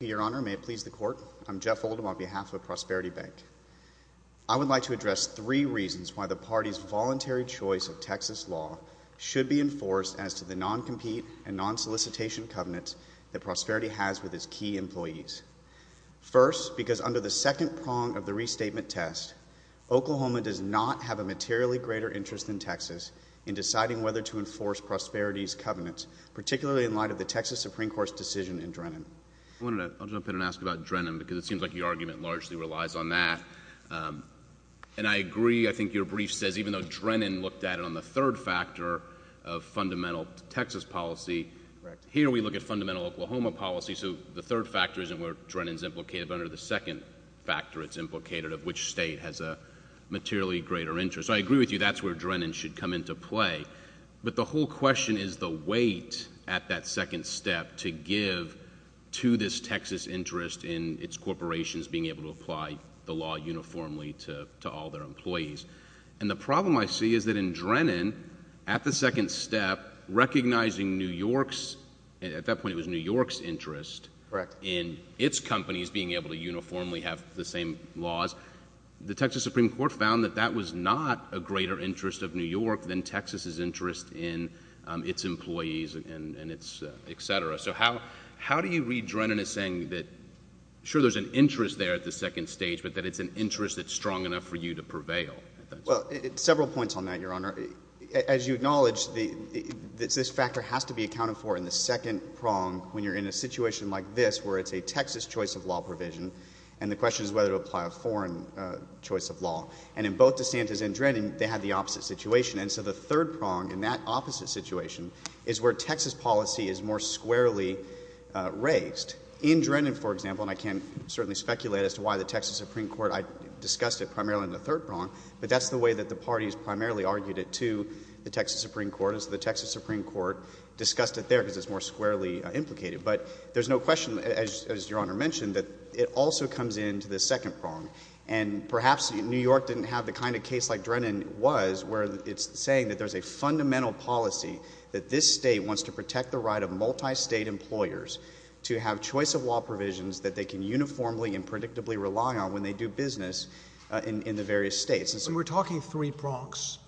Your Honor, may it please the Court, I'm Jeff Oldham on behalf of Prosperity Bank. I would like to address three reasons why the party's voluntary choice of Texas law should be enforced as to the non-compete and non-solicitation covenants that Prosperity has with its key employees. First, because under the second prong of the restatement test, Oklahoma does not have a materially greater interest than Texas in deciding whether to enforce Prosperity's covenants, particularly in light of the Texas Supreme Court's decision in Drennan. I'll jump in and ask about Drennan, because it seems like your argument largely relies on that. And I agree, I think your brief says, even though Drennan looked at it on the third factor of fundamental Texas policy, here we look at fundamental Oklahoma policy, so the third factor isn't where Drennan's implicated, but under the second factor it's implicated of which state has a materially greater interest. So I agree with you, that's where Drennan should come into play. But the whole question is the weight at that second step to give to this Texas interest in its corporations being able to apply the law uniformly to all their employees. And the problem I see is that in Drennan, at the second step, recognizing New York's, at that point it was New York's interest in its companies being able to uniformly have the same laws, the Texas Supreme Court found that that was not a greater interest of New York than Texas's interest in its employees, etc. So how do you read Drennan as saying that, sure there's an interest there at the second stage, but that it's an interest that's strong enough for you to prevail? Well, several points on that, Your Honor. As you acknowledge, this factor has to be accounted for in the second prong when you're in a situation like this where it's a Texas choice of law provision, and the question is whether to apply a foreign choice of law. And in both DeSantis and Drennan, they had the opposite situation. And so the third prong in that opposite situation is where Texas policy is more squarely raised. In Drennan, for example, and I can't certainly speculate as to why the Texas Supreme Court discussed it primarily in the third prong, but that's the way that the parties primarily argued it to the Texas Supreme Court, and so the Texas Supreme Court discussed it there because it's more squarely implicated. But there's no question, as Your Honor mentioned, that it also comes into the second prong. And perhaps New York didn't have the kind of case like Drennan was where it's saying that there's a fundamental policy that this state wants to protect the right of multistate employers to have choice of law provisions that they can uniformly and predictably rely on when they do business in the various states. When we're talking three prongs,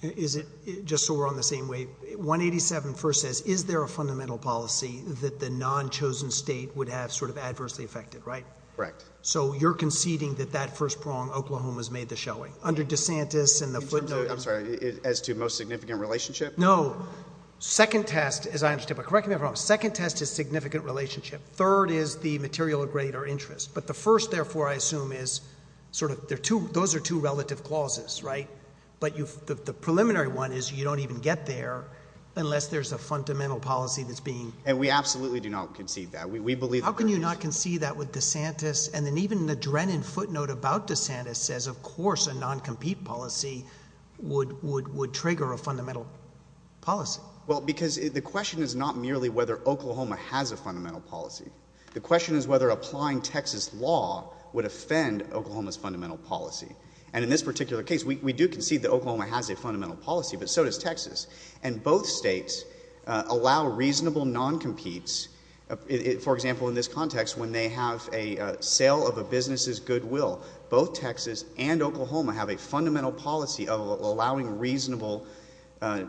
just so we're on the same wave, 187 first says, is there a fundamental policy that the non-chosen state would have sort of adversely affected, right? Correct. So you're conceding that that first prong, Oklahoma's made the showing. Under DeSantis and the footnotes. I'm sorry, as to most significant relationship? No. Second test, as I understand, but correct me if I'm wrong, second test is significant relationship. Third is the material of greater interest. But the first, therefore, I assume is sort of, those are two relative clauses, right? But the preliminary one is you don't even get there unless there's a fundamental policy that's being... And we absolutely do not concede that. We believe... How can you not concede that with DeSantis? And then even the Drennan footnote about DeSantis says, of course, a non-compete policy would trigger a fundamental policy. Well, because the question is not merely whether Oklahoma has a fundamental policy. The question is whether applying Texas law would offend Oklahoma's fundamental policy. And in this particular case, we do concede that Oklahoma has a fundamental policy, but so does Texas. And both states allow reasonable non-competes. For example, in this context, when they have a sale of a business's goodwill, both Texas and Oklahoma have a fundamental policy of allowing reasonable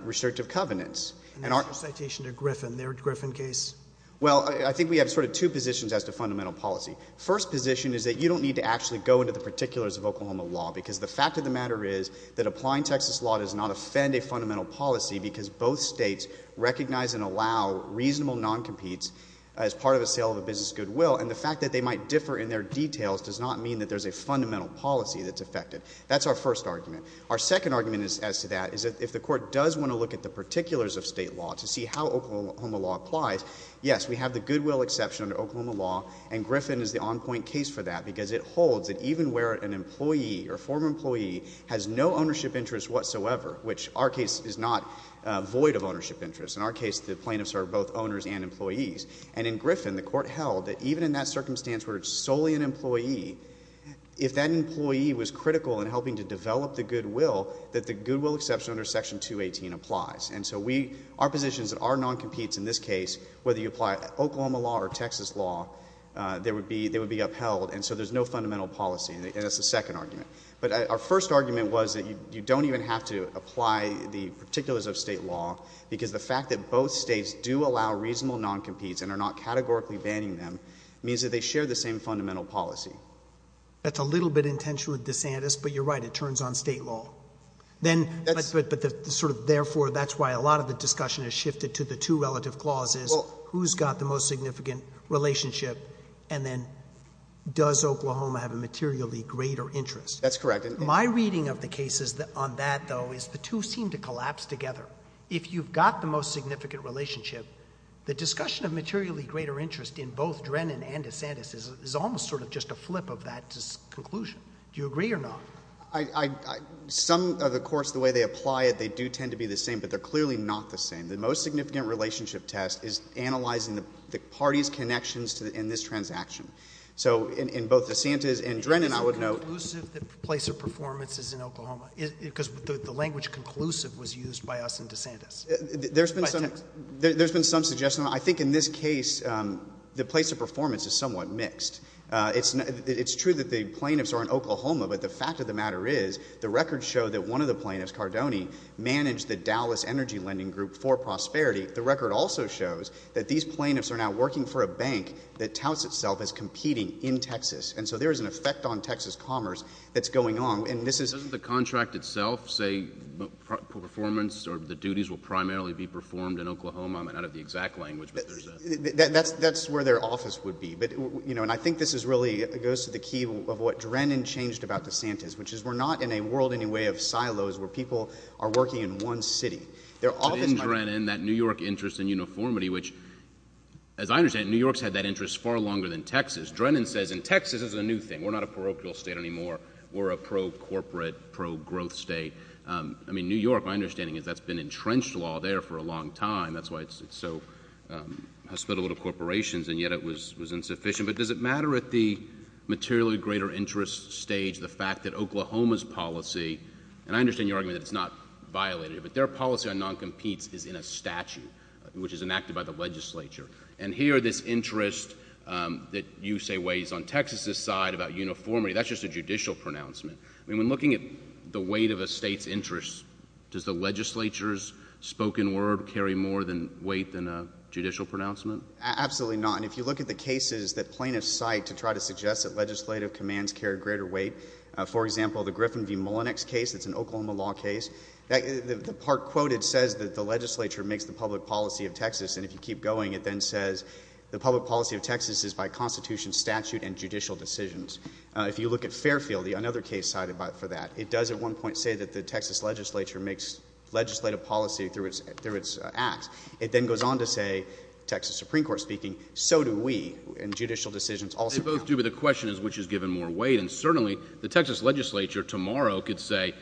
restrictive covenants. And that's a citation to Griffin, their Griffin case. Well, I think we have sort of two positions as to fundamental policy. First position is that you don't need to actually go into the particulars of Oklahoma law because the fact of the matter is that applying Texas law does not offend a fundamental policy because both states recognize and allow reasonable non-competes as part of a sale of a business's goodwill, and the fact that they might differ in their details does not mean that there's a fundamental policy that's affected. That's our first argument. Our second argument as to that is that if the Court does want to look at the particulars of state law to see how Oklahoma law applies, yes, we have the goodwill exception under Section 218 as the on-point case for that because it holds that even where an employee or former employee has no ownership interest whatsoever, which our case is not void of ownership interest. In our case, the plaintiffs are both owners and employees. And in Griffin, the Court held that even in that circumstance where it's solely an employee, if that employee was critical in helping to develop the goodwill, that the goodwill exception under Section 218 applies. And so our positions that are non-competes in this case, whether you apply Oklahoma law or Texas law, they would be upheld, and so there's no fundamental policy, and that's the second argument. But our first argument was that you don't even have to apply the particulars of state law because the fact that both states do allow reasonable non-competes and are not categorically banning them means that they share the same fundamental policy. That's a little bit intentional of DeSantis, but you're right. It turns on state law. Then, but the sort of therefore, that's why a lot of the discussion has shifted to the two relative clauses, who's got the most significant relationship, and then does Oklahoma have a materially greater interest. That's correct. My reading of the cases on that, though, is the two seem to collapse together. If you've got the most significant relationship, the discussion of materially greater interest in both Drennan and DeSantis is almost sort of just a flip of that conclusion. Do you agree or not? Some of the courts, the way they apply it, they do tend to be the same, but they're clearly not the same. The most significant relationship test is analyzing the party's connections in this transaction. So in both DeSantis and Drennan, I would note— Is it conclusive that the place of performance is in Oklahoma? Because the language conclusive was used by us in DeSantis. There's been some— By DeSantis. There's been some suggestion. I think in this case, the place of performance is somewhat mixed. It's true that the plaintiffs are in Oklahoma, but the fact of the matter is the records show that one of the plaintiffs, Cardone, managed the Dallas Energy Lending Group for prosperity. The record also shows that these plaintiffs are now working for a bank that touts itself as competing in Texas. And so there is an effect on Texas commerce that's going on, and this is— Doesn't the contract itself say performance or the duties will primarily be performed in Oklahoma? I don't have the exact language, but there's a— That's where their office would be. And I think this is really—goes to the key of what Drennan changed about DeSantis, which is we're not in a world anyway of silos where people are working in one city. Their office— But in Drennan, that New York interest in uniformity, which, as I understand it, New York's had that interest far longer than Texas. Drennan says in Texas, this is a new thing. We're not a parochial state anymore. We're a pro-corporate, pro-growth state. I mean, New York, my understanding is that's been entrenched law there for a long time. That's why it's so—has split a little corporations, and yet it was insufficient. But does it matter at the materially greater interest stage the fact that Oklahoma's policy—and I understand your argument that it's not violated, but their policy on noncompetes is in a statute, which is enacted by the legislature. And here, this interest that you say weighs on Texas's side about uniformity, that's just a judicial pronouncement. I mean, when looking at the weight of a state's interest, does the legislature's spoken word carry more weight than a judicial pronouncement? Absolutely not. And if you look at the cases that plaintiffs cite to try to suggest that legislative commands carry greater weight, for example, the Griffin v. Mullinex case, it's an Oklahoma law case, the part quoted says that the legislature makes the public policy of Texas. And if you keep going, it then says the public policy of Texas is by Constitution, statute, and judicial decisions. If you look at Fairfield, another case cited for that, it does at one point say that the Texas legislature makes legislative policy through its acts. It then goes on to say, Texas Supreme Court speaking, so do we, and judicial decisions also count. They both do, but the question is which is given more weight. And certainly, the Texas legislature tomorrow could say,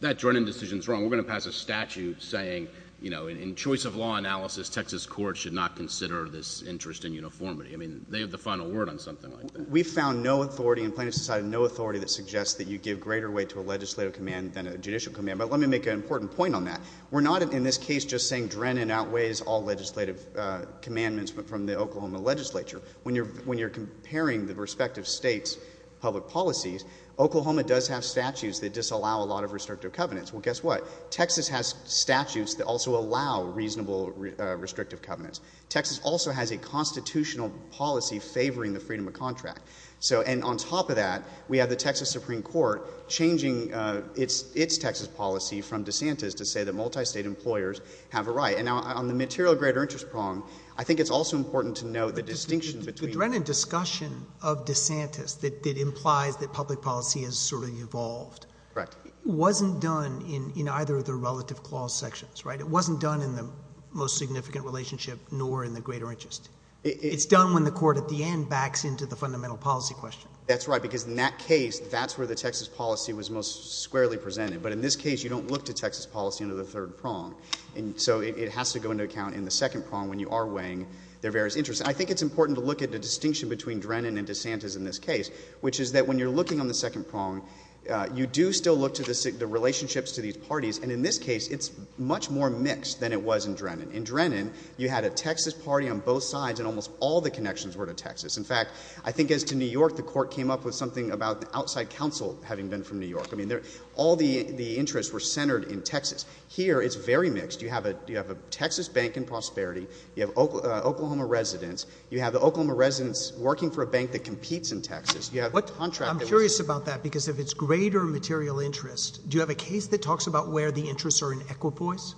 that Drennan decision is wrong. We're going to pass a statute saying, you know, in choice of law analysis, Texas courts should not consider this interest in uniformity. I mean, they have the final word on something like that. We found no authority in plaintiffs' society, no authority that suggests that you give greater weight to a legislative command than a judicial command. But let me make an important point on that. We're not, in this case, just saying Drennan outweighs all legislative commandments from the Oklahoma legislature. When you're comparing the respective states' public policies, Oklahoma does have statutes that disallow a lot of restrictive covenants. Well, guess what? Texas has statutes that also allow reasonable restrictive covenants. Texas also has a constitutional policy favoring the freedom of contract. So, and on top of that, we have the Texas Supreme Court changing its Texas policy from And now, on the material greater interest prong, I think it's also important to note the distinction between— The Drennan discussion of DeSantis that implies that public policy has sort of evolved— Correct. —wasn't done in either of the relative clause sections, right? It wasn't done in the most significant relationship, nor in the greater interest. It's done when the court, at the end, backs into the fundamental policy question. That's right, because in that case, that's where the Texas policy was most squarely presented. But in this case, you don't look to Texas policy under the third prong. And so, it has to go into account in the second prong when you are weighing their various interests. I think it's important to look at the distinction between Drennan and DeSantis in this case, which is that when you're looking on the second prong, you do still look to the relationships to these parties. And in this case, it's much more mixed than it was in Drennan. In Drennan, you had a Texas party on both sides, and almost all the connections were to Texas. In fact, I think as to New York, the court came up with something about the outside counsel having been from New York. I mean, all the interests were centered in Texas. Here, it's very mixed. You have a Texas bank in prosperity. You have Oklahoma residents. You have the Oklahoma residents working for a bank that competes in Texas. You have a contract that was— I'm curious about that, because if it's greater material interest, do you have a case that talks about where the interests are in equipoise?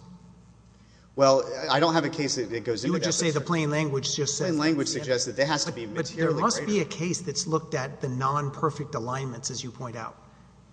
Well, I don't have a case that goes into that. You would just say the plain language just says— Plain language suggests that it has to be materially greater. I don't have a case that's looked at the non-perfect alignments, as you point out,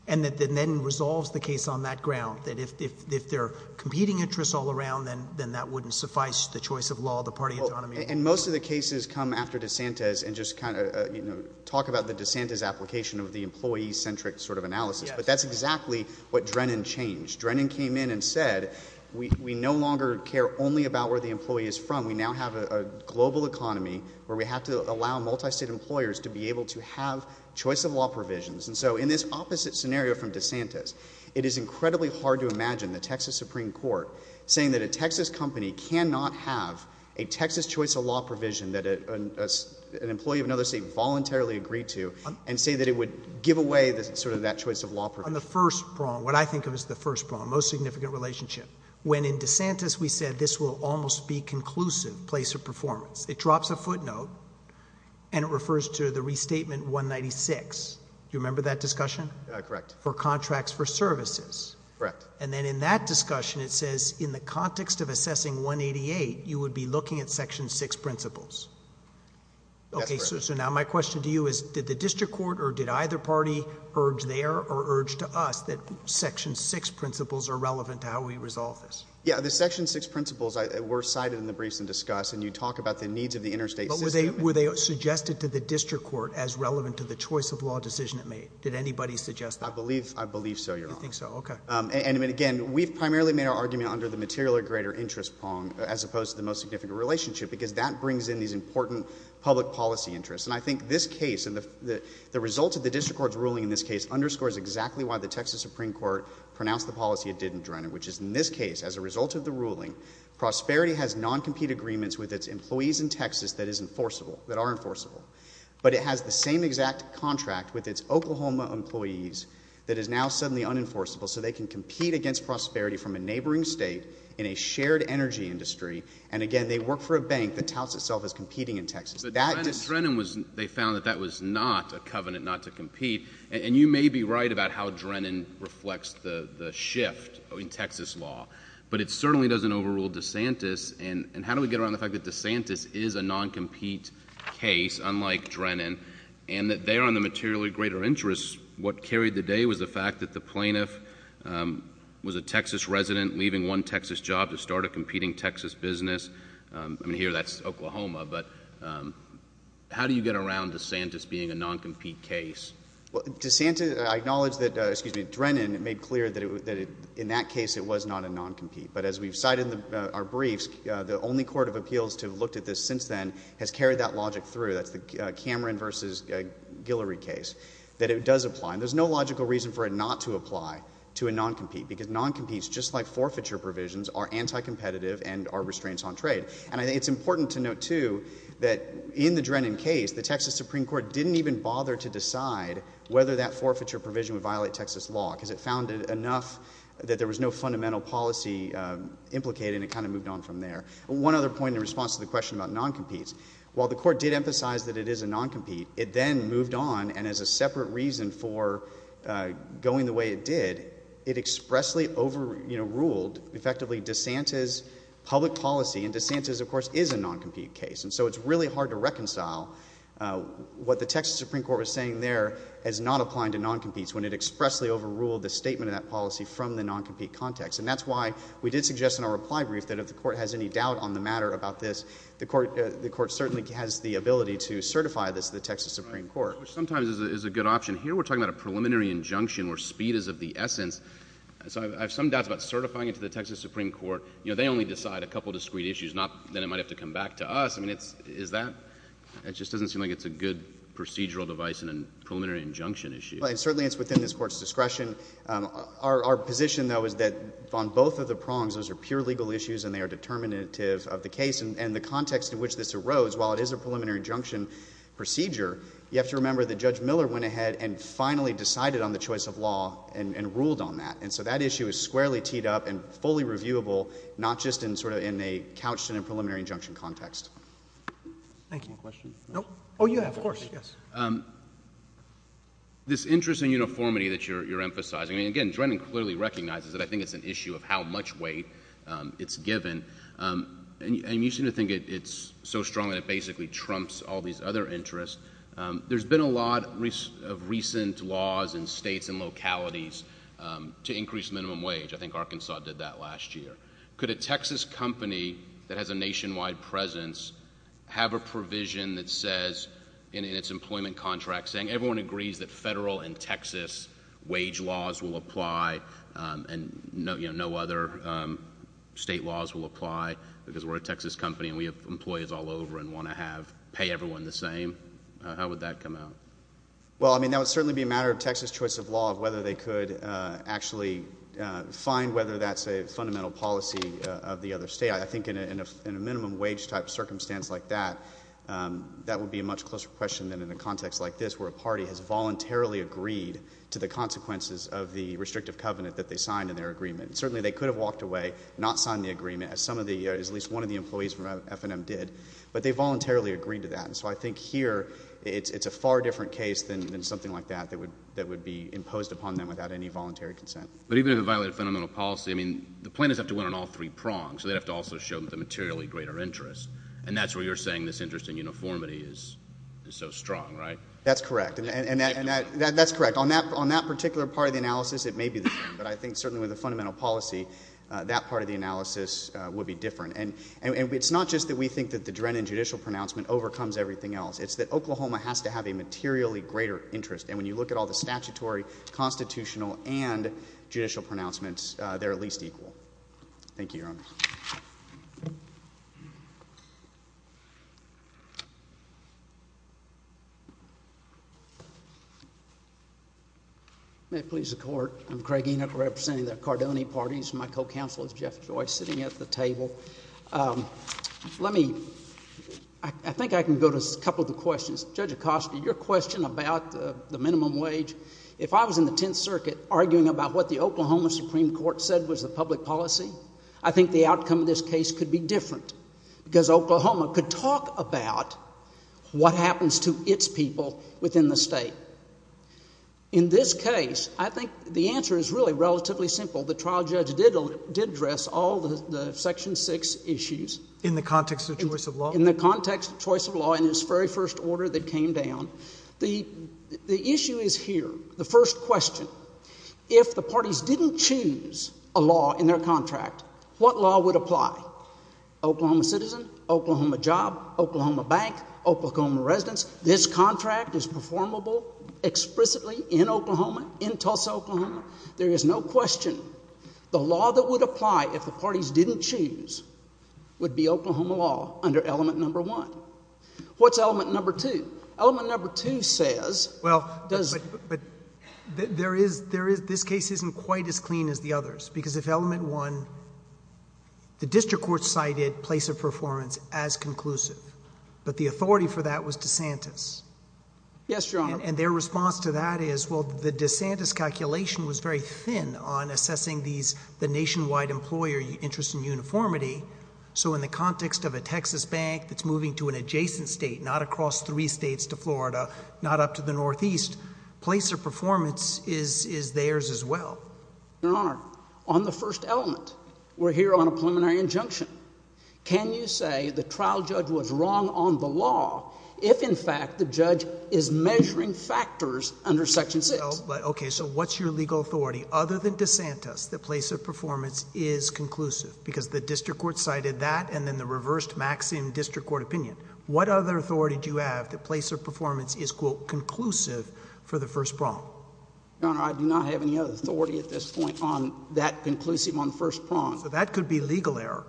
and then resolves the case on that ground, that if they're competing interests all around, then that wouldn't suffice the choice of law, the party autonomy. And most of the cases come after DeSantis and just kind of talk about the DeSantis application of the employee-centric sort of analysis. But that's exactly what Drennan changed. Drennan came in and said, we no longer care only about where the employee is from. We now have a global economy where we have to allow multistate employers to be able to have choice-of-law provisions. And so in this opposite scenario from DeSantis, it is incredibly hard to imagine the Texas Supreme Court saying that a Texas company cannot have a Texas choice-of-law provision that an employee of another state voluntarily agreed to and say that it would give away sort of that choice-of-law provision. On the first prong, what I think of as the first prong, most significant relationship, when in DeSantis we said this will almost be conclusive place of performance. It drops a footnote and it refers to the restatement 196. Do you remember that discussion? Correct. For contracts for services. Correct. And then in that discussion, it says in the context of assessing 188, you would be looking at section 6 principles. That's correct. Okay, so now my question to you is, did the district court or did either party urge there or urge to us that section 6 principles are relevant to how we resolve this? Yeah. The section 6 principles were cited in the briefs in discuss and you talk about the needs of the interstate system. But were they suggested to the district court as relevant to the choice-of-law decision it made? Did anybody suggest that? I believe so, Your Honor. You think so? Okay. And again, we've primarily made our argument under the material or greater interest prong as opposed to the most significant relationship because that brings in these important public policy interests. And I think this case and the result of the district court's ruling in this case underscores exactly why the Texas Supreme Court pronounced the policy it did in Drennan, which is in this case, as a result of the ruling, Prosperity has non-compete agreements with its employees in Texas that are enforceable. But it has the same exact contract with its Oklahoma employees that is now suddenly unenforceable so they can compete against Prosperity from a neighboring state in a shared energy industry. And again, they work for a bank that touts itself as competing in Texas. But Drennan, they found that that was not a covenant not to compete. And you may be right about how Drennan reflects the shift in Texas law. But it certainly doesn't overrule DeSantis. And how do we get around the fact that DeSantis is a non-compete case, unlike Drennan, and that there on the material or greater interest, what carried the day was the fact that the plaintiff was a Texas resident leaving one Texas job to start a competing Texas business. I mean, here that's Oklahoma. But how do you get around DeSantis being a non-compete case? Well, DeSantis, I acknowledge that, excuse me, Drennan made clear that in that case it was not a non-compete. But as we've cited in our briefs, the only court of appeals to have looked at this since then has carried that logic through. That's the Cameron v. Guillory case, that it does apply. And there's no logical reason for it not to apply to a non-compete because non-competes, just like forfeiture provisions, are anti-competitive and are restraints on trade. And I think it's important to note, too, that in the Drennan case, the Texas Supreme Court didn't even bother to decide whether that forfeiture provision would violate Texas law because it found it enough that there was no fundamental policy implicated, and it kind of moved on from there. One other point in response to the question about non-competes, while the court did emphasize that it is a non-compete, it then moved on, and as a separate reason for going the way it did, it expressly overruled, effectively, DeSantis' public policy, and DeSantis, of course, is a non-compete case. And so it's really hard to reconcile what the Texas Supreme Court was saying there as not applying to non-competes when it expressly overruled the statement of that policy from the non-compete context. And that's why we did suggest in our reply brief that if the court has any doubt on the matter about this, the court certainly has the ability to certify this to the Texas Supreme Court. Sometimes it's a good option. Here we're talking about a preliminary injunction where speed is of the essence. So I have some doubts about certifying it to the Texas Supreme Court. You know, they only decide a couple of discrete issues. Then it might have to come back to us. I mean, is that – it just doesn't seem like it's a good procedural device in a preliminary injunction issue. Well, and certainly it's within this Court's discretion. Our position, though, is that on both of the prongs, those are pure legal issues and they are determinative of the case. And the context in which this arose, while it is a preliminary injunction procedure, you have to remember that Judge Miller went ahead and finally decided on the choice of law and ruled on that. And so that issue is squarely teed up and fully reviewable, not just in sort of a couched in a preliminary injunction context. Thank you. Any questions? No. Oh, you have, of course. Yes. This interest in uniformity that you're emphasizing, I mean, again, Drennan clearly recognizes that I think it's an issue of how much weight it's given. And you seem to think it's so strong that it basically trumps all these other interests. There's been a lot of recent laws in states and localities to increase minimum wage. I think Arkansas did that last year. Could a Texas company that has a nationwide presence have a provision that says in its employment contract saying everyone agrees that federal and Texas wage laws will apply and no other state laws will apply because we're a Texas company and we have employees all over and want to pay everyone the same? How would that come out? Well, I mean, that would certainly be a matter of Texas choice of law, of whether they could actually find whether that's a fundamental policy of the other state. I think in a minimum wage type circumstance like that, that would be a much closer question than in a context like this where a party has voluntarily agreed to the consequences of the restrictive covenant that they signed in their agreement. Certainly they could have walked away, not signed the agreement, as at least one of the employees from F&M did, but they voluntarily agreed to that. And so I think here it's a far different case than something like that that would be imposed upon them without any voluntary consent. But even if it violated fundamental policy, I mean, the plaintiffs have to win on all three prongs, so they'd have to also show the materially greater interest, and that's where you're saying this interest in uniformity is so strong, right? That's correct, and that's correct. On that particular part of the analysis, it may be the same, but I think certainly with a fundamental policy, that part of the analysis would be different. And it's not just that we think that the Drennan judicial pronouncement overcomes everything else. It's that Oklahoma has to have a materially greater interest, and when you look at all the statutory, constitutional, and judicial pronouncements, they're at least equal. Thank you, Your Honor. May it please the Court, I'm Craig Enoch representing the Cardone parties. My co-counsel is Jeff Joyce sitting at the table. Let me, I think I can go to a couple of the questions. Judge Acosta, your question about the minimum wage, if I was in the Tenth Circuit arguing about what the Oklahoma Supreme Court said was the public policy, I think the outcome of this case could be different because Oklahoma could talk about what happens to its people within the state. In this case, I think the answer is really relatively simple. The trial judge did address all the Section 6 issues. In the context of choice of law? In the context of choice of law and its very first order that came down. The issue is here, the first question. If the parties didn't choose a law in their contract, what law would apply? Oklahoma citizen, Oklahoma job, Oklahoma bank, Oklahoma residence. This contract is performable explicitly in Oklahoma, in Tulsa, Oklahoma. There is no question. The law that would apply if the parties didn't choose would be Oklahoma law under element number one. What's element number two? Element number two says does... Well, but there is... this case isn't quite as clean as the others because if element one, the district court cited place of performance as conclusive, but the authority for that was DeSantis. Yes, Your Honor. And their response to that is, well, the DeSantis calculation was very thin on assessing these, the nationwide employer interest in uniformity. So in the context of a Texas bank that's moving to an adjacent state, not across three states to Florida, not up to the northeast, place of performance is theirs as well. Your Honor, on the first element, we're here on a preliminary injunction. Can you say the trial judge was wrong on the law if, in fact, the judge is measuring factors under section six? Okay, so what's your legal authority other than DeSantis that place of performance is conclusive because the district court cited that and then the reversed Maxim district court opinion? What other authority do you have that place of performance is, quote, conclusive for the first prong? Your Honor, I do not have any other authority at this point on that conclusive on the first prong. So that could be legal error.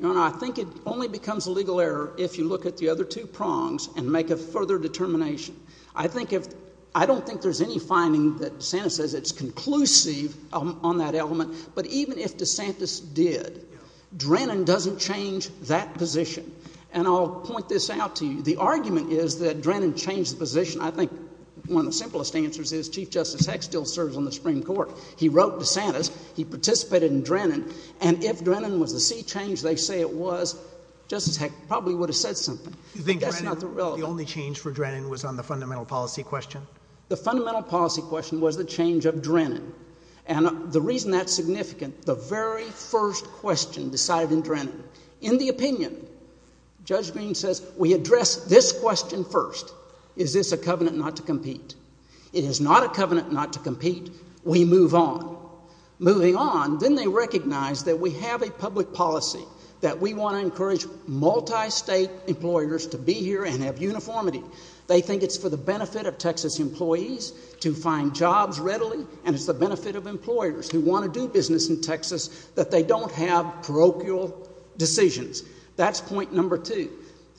Your Honor, I think it only becomes a legal error if you look at the other two prongs and make a further determination. I think if... I don't think there's any finding that DeSantis says it's conclusive on that element, but even if DeSantis did, Drennan doesn't change that position. And I'll point this out to you. The argument is that Drennan changed the position. I think one of the simplest answers is Chief Justice Hecht still serves on the Supreme Court. He wrote DeSantis. He participated in Drennan. And if Drennan was the sea change they say it was, Justice Hecht probably would have said something. Do you think Drennan, the only change for Drennan, was on the fundamental policy question? The fundamental policy question was the change of Drennan. And the reason that's significant, the very first question decided in Drennan. In the opinion, Judge Green says we address this question first. Is this a covenant not to compete? It is not a covenant not to compete. We move on. Moving on, then they recognize that we have a public policy, that we want to encourage multistate employers to be here and have uniformity. They think it's for the benefit of Texas employees to find jobs readily, and it's the benefit of employers who want to do business in Texas that they don't have parochial decisions. That's point number two.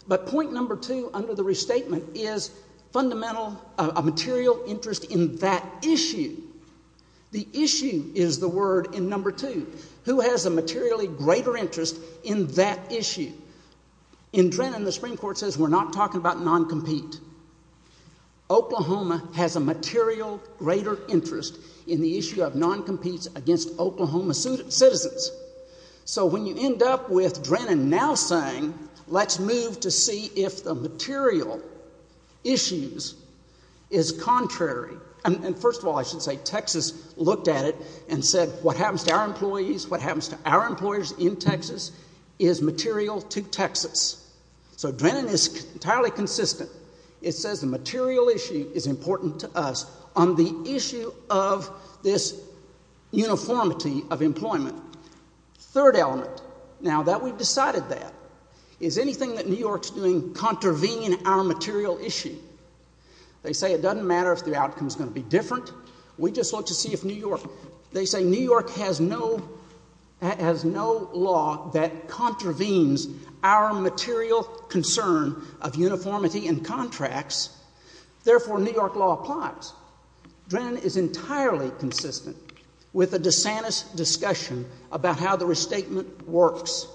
But point number two under the restatement is fundamental, a material interest in that issue. The issue is the word in number two. Who has a materially greater interest in that issue? In Drennan, the Supreme Court says we're not talking about noncompete. Oklahoma has a material greater interest in the issue of noncompetes against Oklahoma citizens. So when you end up with Drennan now saying let's move to see if the material issues is contrary, and first of all I should say Texas looked at it and said what happens to our employees, what happens to our employers in Texas is material to Texas. So Drennan is entirely consistent. It says the material issue is important to us on the issue of this uniformity of employment. Third element, now that we've decided that, is anything that New York's doing contravening our material issue. They say it doesn't matter if the outcome is going to be different. We just want to see if New York. They say New York has no law that contravenes our material concern of uniformity in contracts. Therefore, New York law applies. Drennan is entirely consistent with the DeSantis discussion about how the restatement works.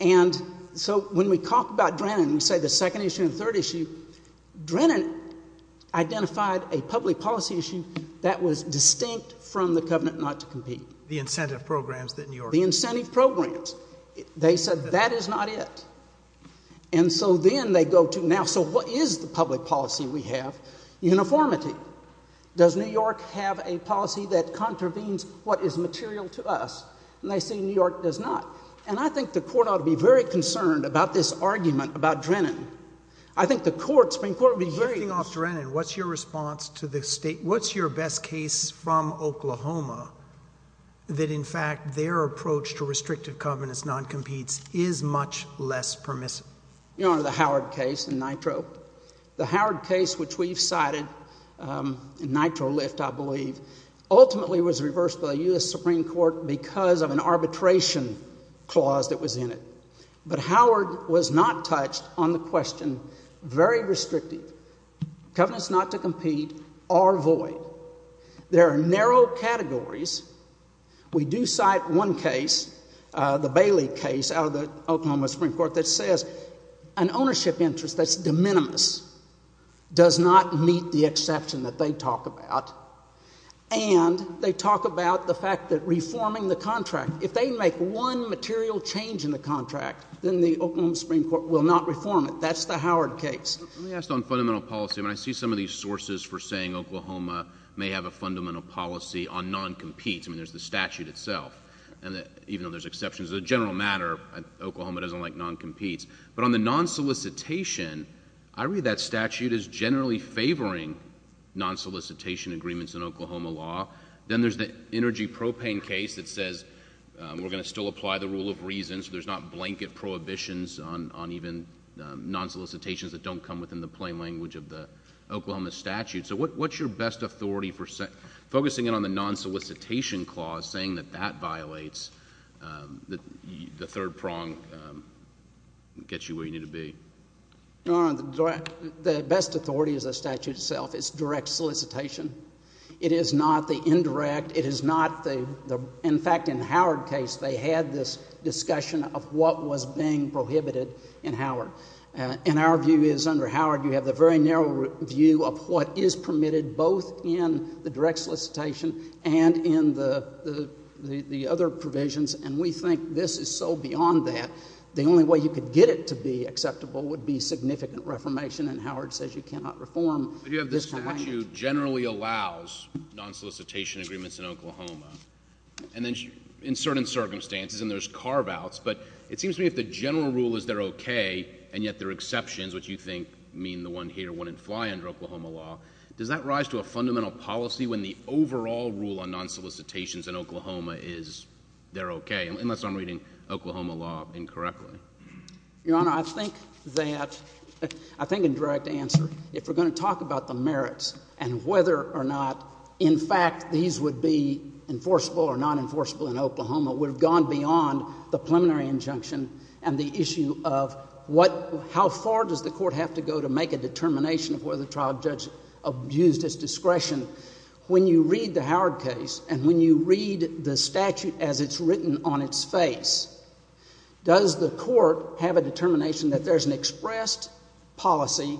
And so when we talk about Drennan, we say the second issue and third issue, Drennan identified a public policy issue that was distinct from the covenant not to compete. The incentive programs that New York. The incentive programs. They said that is not it. And so then they go to now, so what is the public policy we have? Uniformity. Does New York have a policy that contravenes what is material to us? And they say New York does not. And I think the court ought to be very concerned about this argument about Drennan. I think the Supreme Court would be very concerned. What is your response to the state? What is your best case from Oklahoma that, in fact, their approach to restrictive covenants non-competes is much less permissive? The Howard case in Nitro. The Howard case, which we have cited in Nitro lift, I believe, ultimately was reversed by the U.S. Supreme Court because of an arbitration clause that was in it. But Howard was not touched on the question, very restrictive. Covenants not to compete are void. There are narrow categories. We do cite one case, the Bailey case out of the Oklahoma Supreme Court, that says an ownership interest that's de minimis does not meet the exception that they talk about, and they talk about the fact that reforming the contract, if they make one material change in the contract, then the Oklahoma Supreme Court will not reform it. That's the Howard case. Let me ask on fundamental policy. I mean, I see some of these sources for saying Oklahoma may have a fundamental policy on non-competes. I mean, there's the statute itself, even though there's exceptions. As a general matter, Oklahoma doesn't like non-competes. But on the non-solicitation, I read that statute as generally favoring non-solicitation agreements in Oklahoma law. Then there's the energy propane case that says we're going to still apply the rule of reason, so there's not blanket prohibitions on even non-solicitations that don't come within the plain language of the Oklahoma statute. So what's your best authority for focusing in on the non-solicitation clause, saying that that violates the third prong, gets you where you need to be? The best authority is the statute itself. It's direct solicitation. It is not the indirect. It is not the, in fact, in the Howard case, they had this discussion of what was being prohibited in Howard. And our view is under Howard you have the very narrow view of what is permitted both in the direct solicitation and in the other provisions, and we think this is so beyond that. The only way you could get it to be acceptable would be significant reformation, and Howard says you cannot reform this kind of language. But you have this statute generally allows non-solicitation agreements in Oklahoma, and then in certain circumstances, and there's carve-outs, but it seems to me if the general rule is they're okay and yet there are exceptions, which you think mean the one here wouldn't fly under Oklahoma law, does that rise to a fundamental policy when the overall rule on non-solicitations in Oklahoma is they're okay, unless I'm reading Oklahoma law incorrectly? Your Honor, I think that, I think in direct answer, if we're going to talk about the merits and whether or not, in fact, these would be enforceable or non-enforceable in Oklahoma, we've gone beyond the preliminary injunction and the issue of what, how far does the court have to go to make a determination of whether the trial judge abused his discretion. When you read the Howard case and when you read the statute as it's written on its face, does the court have a determination that there's an expressed policy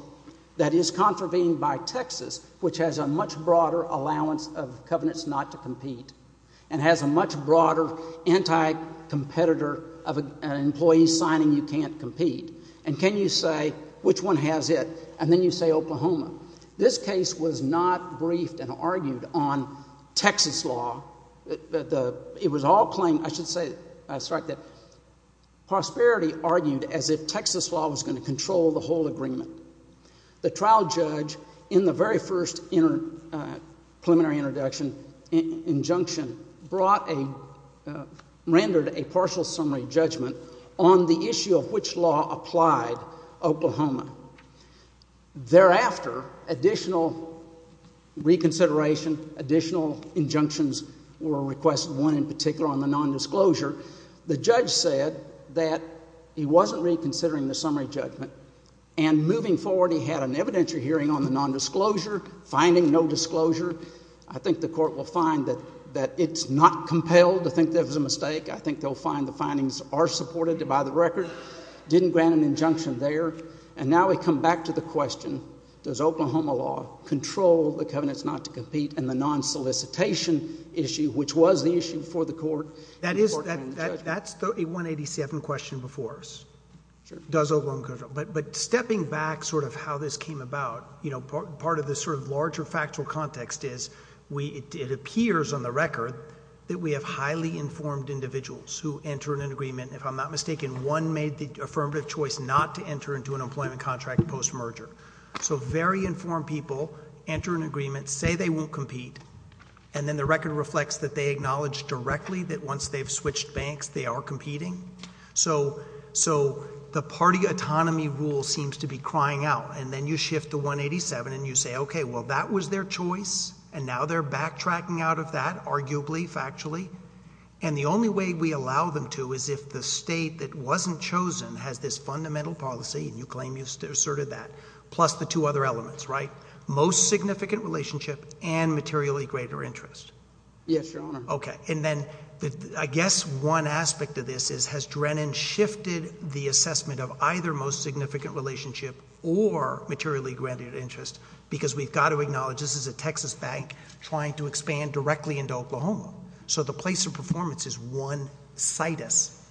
that is contravened by Texas, which has a much broader allowance of covenants not to compete and has a much broader anti-competitor of an employee signing you can't compete, and can you say which one has it, and then you say Oklahoma. This case was not briefed and argued on Texas law. It was all claimed, I should say, sorry, that prosperity argued as if Texas law was going to control the whole agreement. The trial judge in the very first preliminary introduction injunction brought a, rendered a partial summary judgment on the issue of which law applied Oklahoma. Thereafter, additional reconsideration, additional injunctions were requested, one in particular on the nondisclosure. The judge said that he wasn't reconsidering the summary judgment, and moving forward he had an evidentiary hearing on the nondisclosure, finding no disclosure. I think the court will find that it's not compelled to think that it was a mistake. I think they'll find the findings are supported by the record. Didn't grant an injunction there, and now we come back to the question, does Oklahoma law control the covenants not to compete and the non-solicitation issue, which was the issue before the court. That is, that's a 187 question before us. Sure. Does Oklahoma control, but stepping back sort of how this came about, you know, part of this sort of larger factual context is we, it appears on the record that we have highly informed individuals who enter an agreement. If I'm not mistaken, one made the affirmative choice not to enter into an employment contract post-merger. So very informed people enter an agreement, say they won't compete, and then the record reflects that they acknowledge directly that once they've switched banks they are competing. So the party autonomy rule seems to be crying out, and then you shift to 187 and you say, okay, well, that was their choice, and now they're backtracking out of that, arguably, factually, and the only way we allow them to is if the state that wasn't chosen has this fundamental policy, and you claim you've asserted that, plus the two other elements, right, most significant relationship and materially greater interest. Yes, Your Honor. Okay. And then I guess one aspect of this is, has Drennan shifted the assessment of either most significant relationship or materially granted interest, because we've got to acknowledge this is a Texas bank trying to expand directly into Oklahoma. So the place of performance is one situs.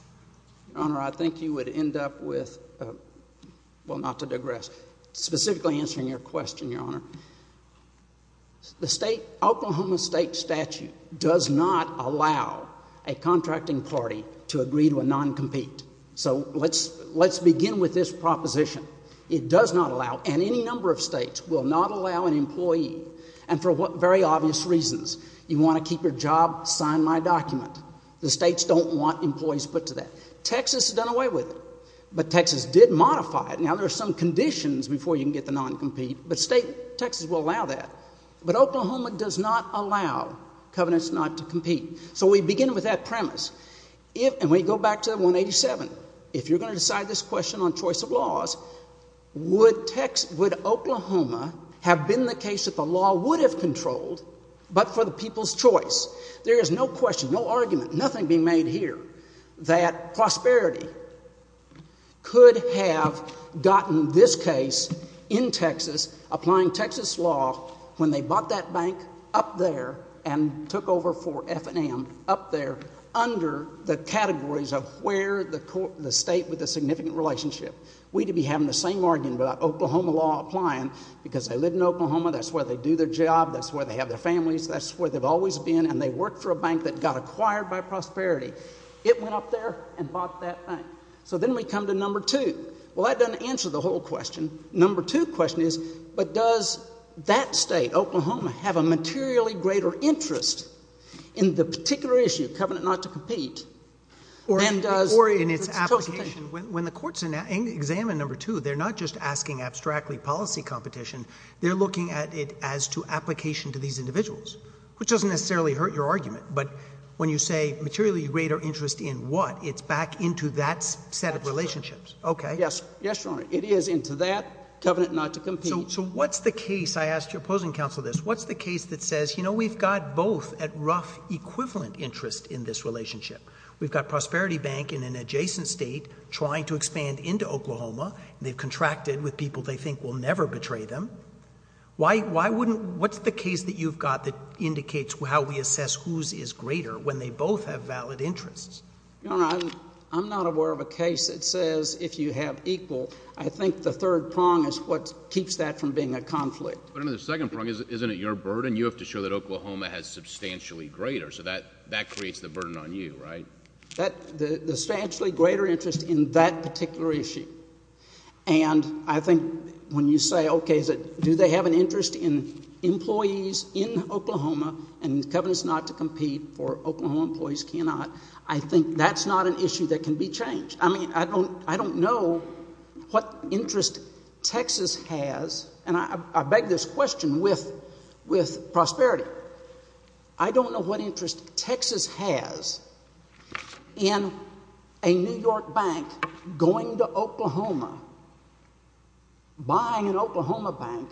Your Honor, I think you would end up with, well, not to digress, specifically answering your question, Your Honor. The Oklahoma state statute does not allow a contracting party to agree to a non-compete. So let's begin with this proposition. It does not allow, and any number of states will not allow an employee, and for very obvious reasons. You want to keep your job, sign my document. The states don't want employees put to that. Texas has done away with it, but Texas did modify it. Now, there are some conditions before you can get the non-compete, but Texas will allow that. But Oklahoma does not allow covenants not to compete. So we begin with that premise, and we go back to 187. If you're going to decide this question on choice of laws, would Oklahoma have been the case that the law would have controlled, but for the people's choice? There is no question, no argument, nothing being made here, that Prosperity could have gotten this case in Texas, applying Texas law, when they bought that bank up there and took over for F&M up there, under the categories of where the state with a significant relationship. We'd be having the same argument about Oklahoma law applying, because they live in Oklahoma, that's where they do their job, that's where they have their families, that's where they've always been, and they worked for a bank that got acquired by Prosperity. It went up there and bought that bank. So then we come to number two. Well, that doesn't answer the whole question. The number two question is, but does that state, Oklahoma, have a materially greater interest in the particular issue, covenant not to compete, than does— Examine number two. They're not just asking abstractly policy competition. They're looking at it as to application to these individuals, which doesn't necessarily hurt your argument. But when you say materially greater interest in what, it's back into that set of relationships. Absolutely. Okay. Yes, Your Honor. It is into that, covenant not to compete. So what's the case—I ask your opposing counsel this—what's the case that says, you know, we've got both at rough equivalent interest in this relationship? We've got Prosperity Bank in an adjacent state trying to expand into Oklahoma. They've contracted with people they think will never betray them. Why wouldn't—what's the case that you've got that indicates how we assess whose is greater when they both have valid interests? Your Honor, I'm not aware of a case that says if you have equal. I think the third prong is what keeps that from being a conflict. But under the second prong, isn't it your burden? You have to show that Oklahoma has substantially greater. So that creates the burden on you, right? The substantially greater interest in that particular issue. And I think when you say, okay, do they have an interest in employees in Oklahoma and covenants not to compete for Oklahoma employees cannot, I think that's not an issue that can be changed. I mean, I don't know what interest Texas has—and I beg this question with prosperity. I don't know what interest Texas has in a New York bank going to Oklahoma, buying an Oklahoma bank,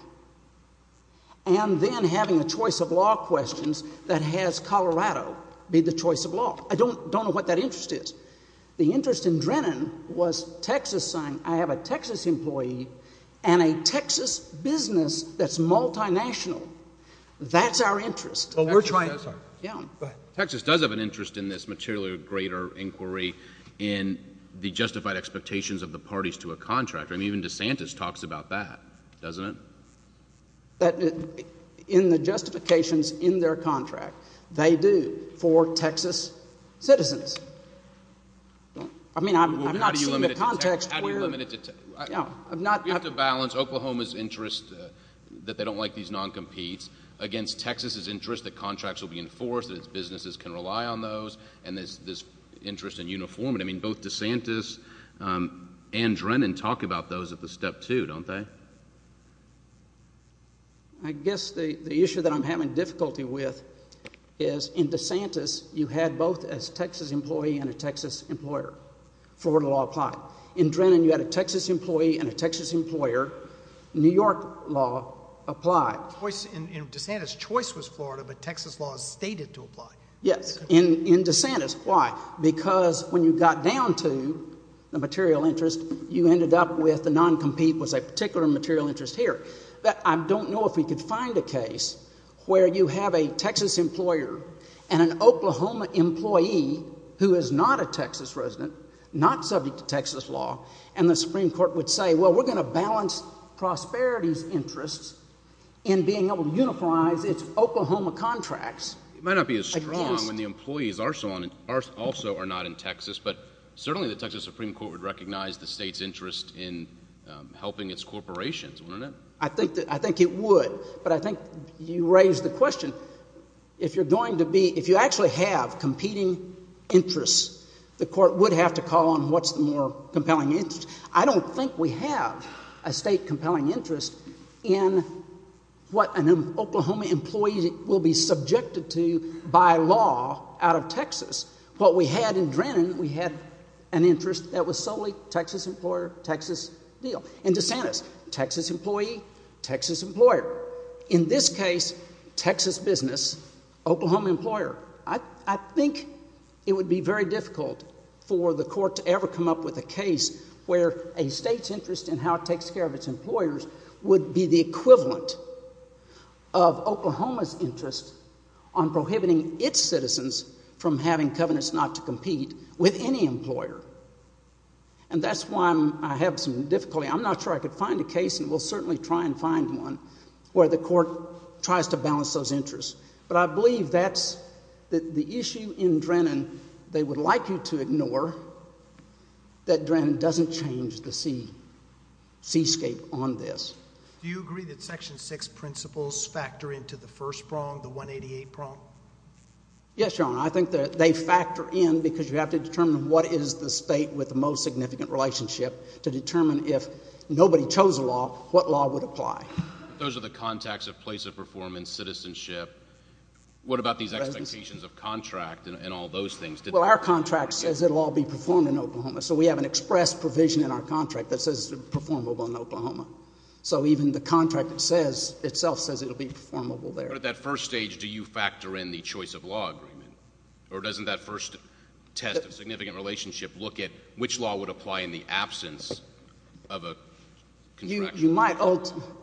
and then having a choice of law questions that has Colorado be the choice of law. I don't know what that interest is. The interest in Drennan was Texas—I have a Texas employee and a Texas business that's multinational. That's our interest. Well, we're trying— Go ahead. Texas does have an interest in this materially greater inquiry in the justified expectations of the parties to a contract. I mean, even DeSantis talks about that, doesn't it? In the justifications in their contract, they do for Texas citizens. I mean, I've not seen the context where— How do you limit it to— We have to balance Oklahoma's interest that they don't like these non-competes against Texas's interest that contracts will be enforced, that its businesses can rely on those, and this interest in uniformity. I mean, both DeSantis and Drennan talk about those at the step two, don't they? I guess the issue that I'm having difficulty with is in DeSantis you had both a Texas employee and a Texas employer for where the law applied. In Drennan you had a Texas employee and a Texas employer. New York law applied. In DeSantis, choice was Florida, but Texas law is stated to apply. Yes, in DeSantis. Why? Because when you got down to the material interest, you ended up with the non-compete was a particular material interest here. I don't know if we could find a case where you have a Texas employer and an Oklahoma employee who is not a Texas resident, not subject to Texas law, and the Supreme Court would say, well, we're going to balance prosperity's interests in being able to unify its Oklahoma contracts. It might not be as strong when the employees also are not in Texas, but certainly the Texas Supreme Court would recognize the state's interest in helping its corporations, wouldn't it? I think it would, but I think you raise the question. If you're going to be – if you actually have competing interests, the court would have to call on what's the more compelling interest. I don't think we have a state compelling interest in what an Oklahoma employee will be subjected to by law out of Texas. What we had in Drennan, we had an interest that was solely Texas employer, Texas deal. In DeSantis, Texas employee, Texas employer. In this case, Texas business, Oklahoma employer. I think it would be very difficult for the court to ever come up with a case where a state's interest in how it takes care of its employers would be the equivalent of Oklahoma's interest on prohibiting its citizens from having covenants not to compete with any employer. And that's why I have some difficulty. I'm not sure I could find a case, and we'll certainly try and find one, where the court tries to balance those interests. But I believe that's the issue in Drennan they would like you to ignore, that Drennan doesn't change the seascape on this. Do you agree that Section 6 principles factor into the first prong, the 188 prong? Yes, Your Honor. I think they factor in because you have to determine what is the state with the most significant relationship to determine if nobody chose a law, what law would apply. Those are the contacts of place of performance, citizenship. What about these expectations of contract and all those things? Well, our contract says it will all be performed in Oklahoma, so we have an express provision in our contract that says it's performable in Oklahoma. So even the contract itself says it will be performable there. But at that first stage, do you factor in the choice of law agreement? Or doesn't that first test of significant relationship look at which law would apply in the absence of a contract?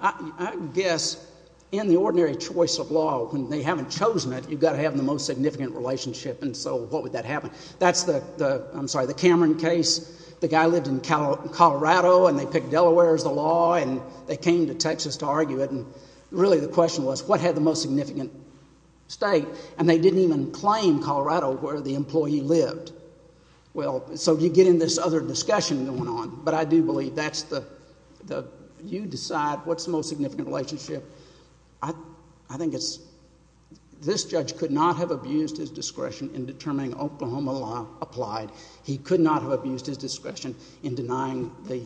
I guess in the ordinary choice of law, when they haven't chosen it, you've got to have the most significant relationship, and so what would that happen? That's the Cameron case. The guy lived in Colorado, and they picked Delaware as the law, and they came to Texas to argue it. And really the question was what had the most significant state, and they didn't even claim Colorado where the employee lived. Well, so you get in this other discussion going on, but I do believe that's the you decide what's the most significant relationship. I think it's this judge could not have abused his discretion in determining Oklahoma law applied. He could not have abused his discretion in denying the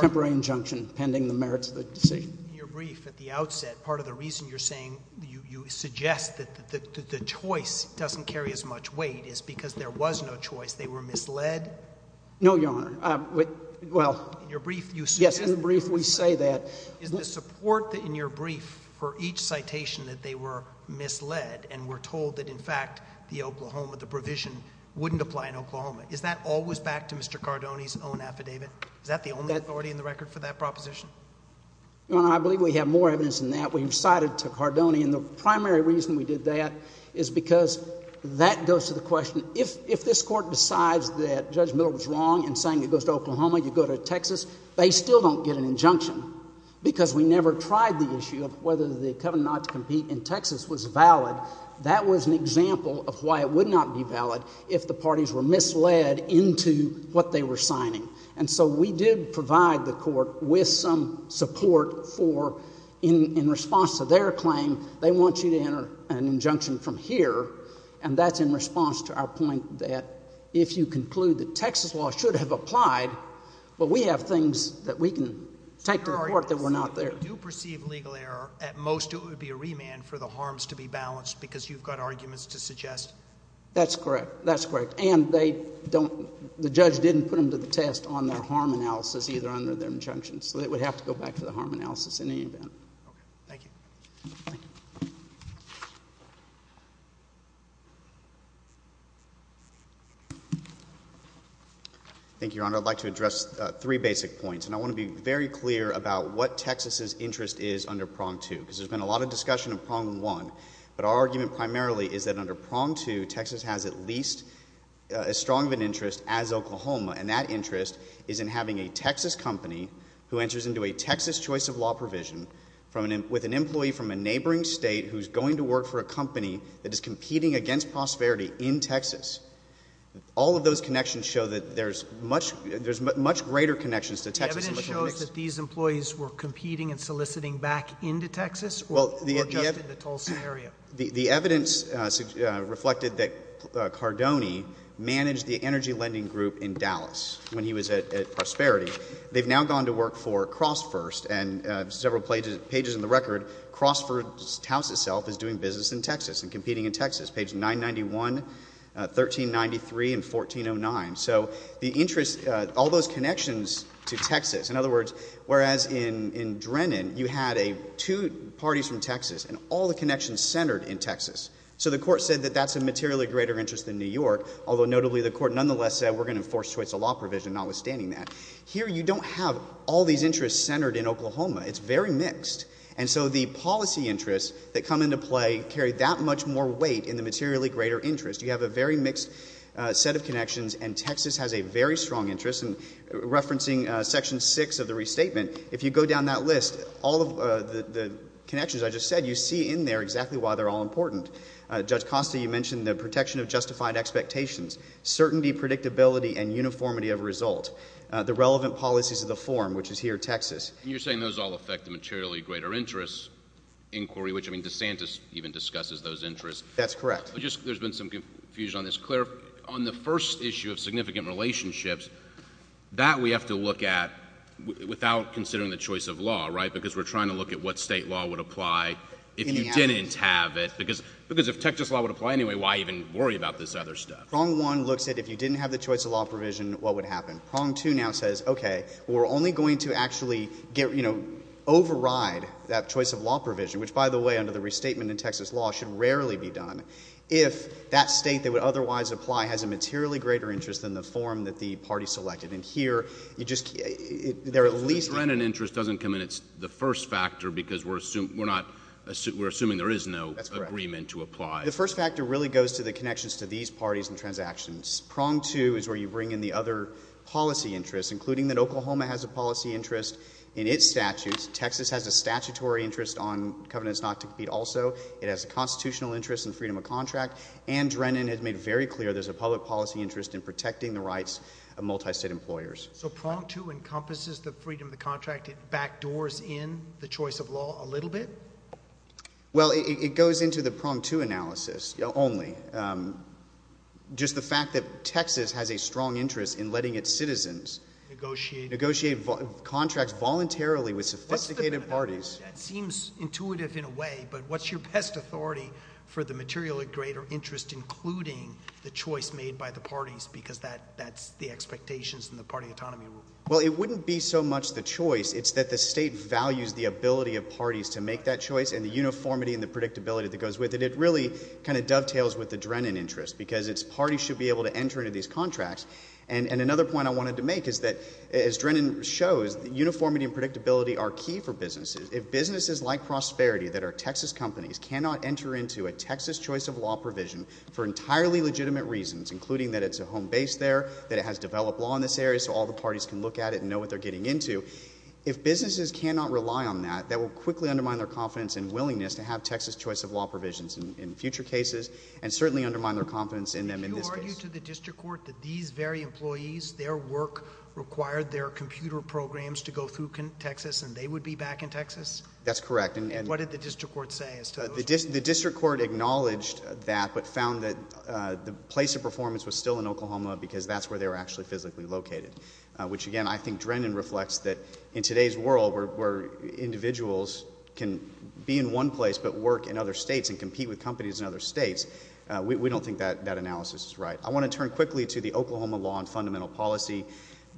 temporary injunction pending the merits of the decision. In your brief at the outset, part of the reason you're saying you suggest that the choice doesn't carry as much weight is because there was no choice. They were misled? No, Your Honor. Well, yes, in the brief we say that. Is the support in your brief for each citation that they were misled and were told that in fact the Oklahoma, the provision wouldn't apply in Oklahoma, is that always back to Mr. Cardone's own affidavit? Is that the only authority in the record for that proposition? Your Honor, I believe we have more evidence than that. We recited to Cardone. And the primary reason we did that is because that goes to the question if this Court decides that Judge Miller was wrong in saying it goes to Oklahoma, you go to Texas, they still don't get an injunction because we never tried the issue of whether the covenant to compete in Texas was valid. That was an example of why it would not be valid if the parties were misled into what they were signing. And so we did provide the Court with some support for in response to their claim, they want you to enter an injunction from here, and that's in response to our point that if you conclude that Texas law should have applied, but we have things that we can take to the Court that were not there. Your argument is that if they do perceive legal error, at most it would be a remand for the harms to be balanced because you've got arguments to suggest? That's correct. That's correct. And they don't, the judge didn't put them to the test on their harm analysis either under their injunction. So they would have to go back to the harm analysis in any event. Thank you. Thank you. Thank you, Your Honor. I'd like to address three basic points. And I want to be very clear about what Texas's interest is under prong two because there's been a lot of discussion of prong one. But our argument primarily is that under prong two, Texas has at least as strong of an interest as Oklahoma. And that interest is in having a Texas company who enters into a Texas choice of law provision with an employee from a neighboring state who's going to work for a company that is competing against prosperity in Texas. All of those connections show that there's much greater connections to Texas. The evidence shows that these employees were competing and soliciting back into Texas or just in the Tulsa area? The evidence reflected that Cardone managed the energy lending group in Dallas when he was at Prosperity. They've now gone to work for CrossFirst and several pages in the record, CrossFirst House itself is doing business in Texas and competing in Texas. Page 991, 1393, and 1409. So the interest, all those connections to Texas. In other words, whereas in Drennan, you had two parties from Texas and all the connections centered in Texas. So the court said that that's a materially greater interest than New York, although notably the court nonetheless said we're going to enforce choice of law provision notwithstanding that. Here you don't have all these interests centered in Oklahoma. It's very mixed. And so the policy interests that come into play carry that much more weight in the materially greater interest. You have a very mixed set of connections, and Texas has a very strong interest. And referencing Section 6 of the restatement, if you go down that list, all of the connections I just said, you see in there exactly why they're all important. Judge Costa, you mentioned the protection of justified expectations, certainty, predictability, and uniformity of result. The relevant policies of the form, which is here, Texas. And you're saying those all affect the materially greater interest inquiry, which I mean DeSantis even discusses those interests. That's correct. There's been some confusion on this. Claire, on the first issue of significant relationships, that we have to look at without considering the choice of law, right? Because we're trying to look at what state law would apply if you didn't have it. Because if Texas law would apply anyway, why even worry about this other stuff? Prong 1 looks at if you didn't have the choice of law provision, what would happen? Prong 2 now says, okay, we're only going to actually get, you know, override that choice of law provision, which, by the way, under the restatement in Texas law, should rarely be done, if that state that would otherwise apply has a materially greater interest than the form that the party selected. And here, you just — they're at least — If rent and interest doesn't come in, it's the first factor, because we're assuming there is no agreement to apply. That's correct. The first factor really goes to the connections to these parties and transactions. Prong 2 is where you bring in the other policy interests, including that Oklahoma has a policy interest in its statutes. Texas has a statutory interest on covenants not to compete also. It has a constitutional interest in freedom of contract. And Drennan has made very clear there's a public policy interest in protecting the rights of multistate employers. So Prong 2 encompasses the freedom of the contract. It backdoors in the choice of law a little bit? Well, it goes into the Prong 2 analysis only. Just the fact that Texas has a strong interest in letting its citizens negotiate contracts voluntarily with sophisticated parties. That seems intuitive in a way, but what's your best authority for the materially greater interest, including the choice made by the parties, because that's the expectations in the party autonomy rule? Well, it wouldn't be so much the choice. It's that the state values the ability of parties to make that choice and the uniformity and the predictability that goes with it. It really kind of dovetails with the Drennan interest because its parties should be able to enter into these contracts. And another point I wanted to make is that, as Drennan shows, uniformity and predictability are key for businesses. If businesses like Prosperity that are Texas companies cannot enter into a Texas choice of law provision for entirely legitimate reasons, including that it's a home base there, that it has developed law in this area so all the parties can look at it and know what they're getting into, if businesses cannot rely on that, that will quickly undermine their confidence and willingness to have Texas choice of law provisions in future cases and certainly undermine their confidence in them in this case. Did you argue to the district court that these very employees, their work required their computer programs to go through Texas and they would be back in Texas? That's correct. And what did the district court say as to those people? The district court acknowledged that but found that the place of performance was still in Oklahoma because that's where they were actually physically located, which, again, I think Drennan reflects that in today's world where individuals can be in one place but work in other states and compete with companies in other states, we don't think that analysis is right. I want to turn quickly to the Oklahoma law and fundamental policy.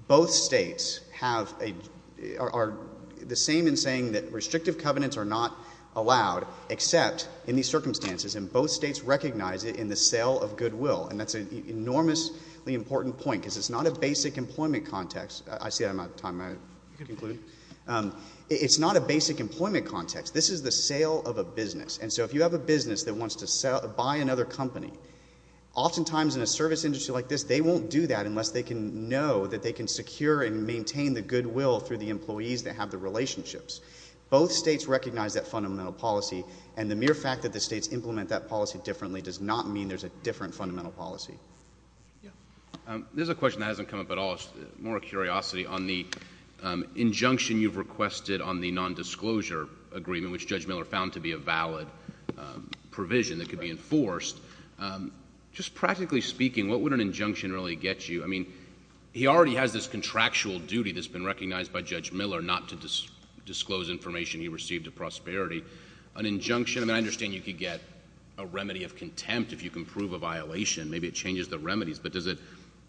Both states are the same in saying that restrictive covenants are not allowed except in these circumstances, and both states recognize it in the sale of goodwill, and that's an enormously important point because it's not a basic employment context. I see I'm out of time. I conclude. It's not a basic employment context. This is the sale of a business, and so if you have a business that wants to buy another company, oftentimes in a service industry like this they won't do that unless they can know that they can secure and maintain the goodwill through the employees that have the relationships. Both states recognize that fundamental policy, and the mere fact that the states implement that policy differently does not mean there's a different fundamental policy. There's a question that hasn't come up at all. It's more a curiosity on the injunction you've requested on the nondisclosure agreement, which Judge Miller found to be a valid provision that could be enforced. Just practically speaking, what would an injunction really get you? I mean, he already has this contractual duty that's been recognized by Judge Miller not to disclose information he received to Prosperity. An injunction, I mean, I understand you could get a remedy of contempt if you can prove a violation. Maybe it changes the remedies, but does it?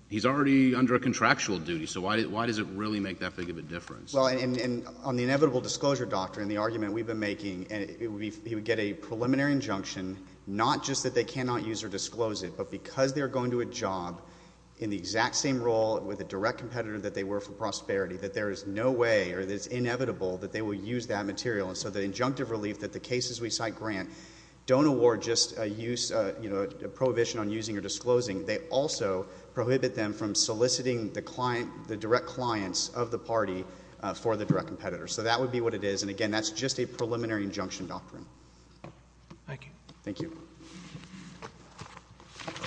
He's already under a contractual duty, so why does it really make that big of a difference? Well, on the inevitable disclosure doctrine, the argument we've been making, he would get a preliminary injunction not just that they cannot use or disclose it, but because they're going to a job in the exact same role with a direct competitor that they were for Prosperity, that there is no way or that it's inevitable that they will use that material, and so the injunctive relief that the cases we cite grant don't award just a use, you know, a prohibition on using or disclosing. They also prohibit them from soliciting the direct clients of the party for the direct competitor. So that would be what it is, and again, that's just a preliminary injunction doctrine. Thank you. Thank you. Thank you.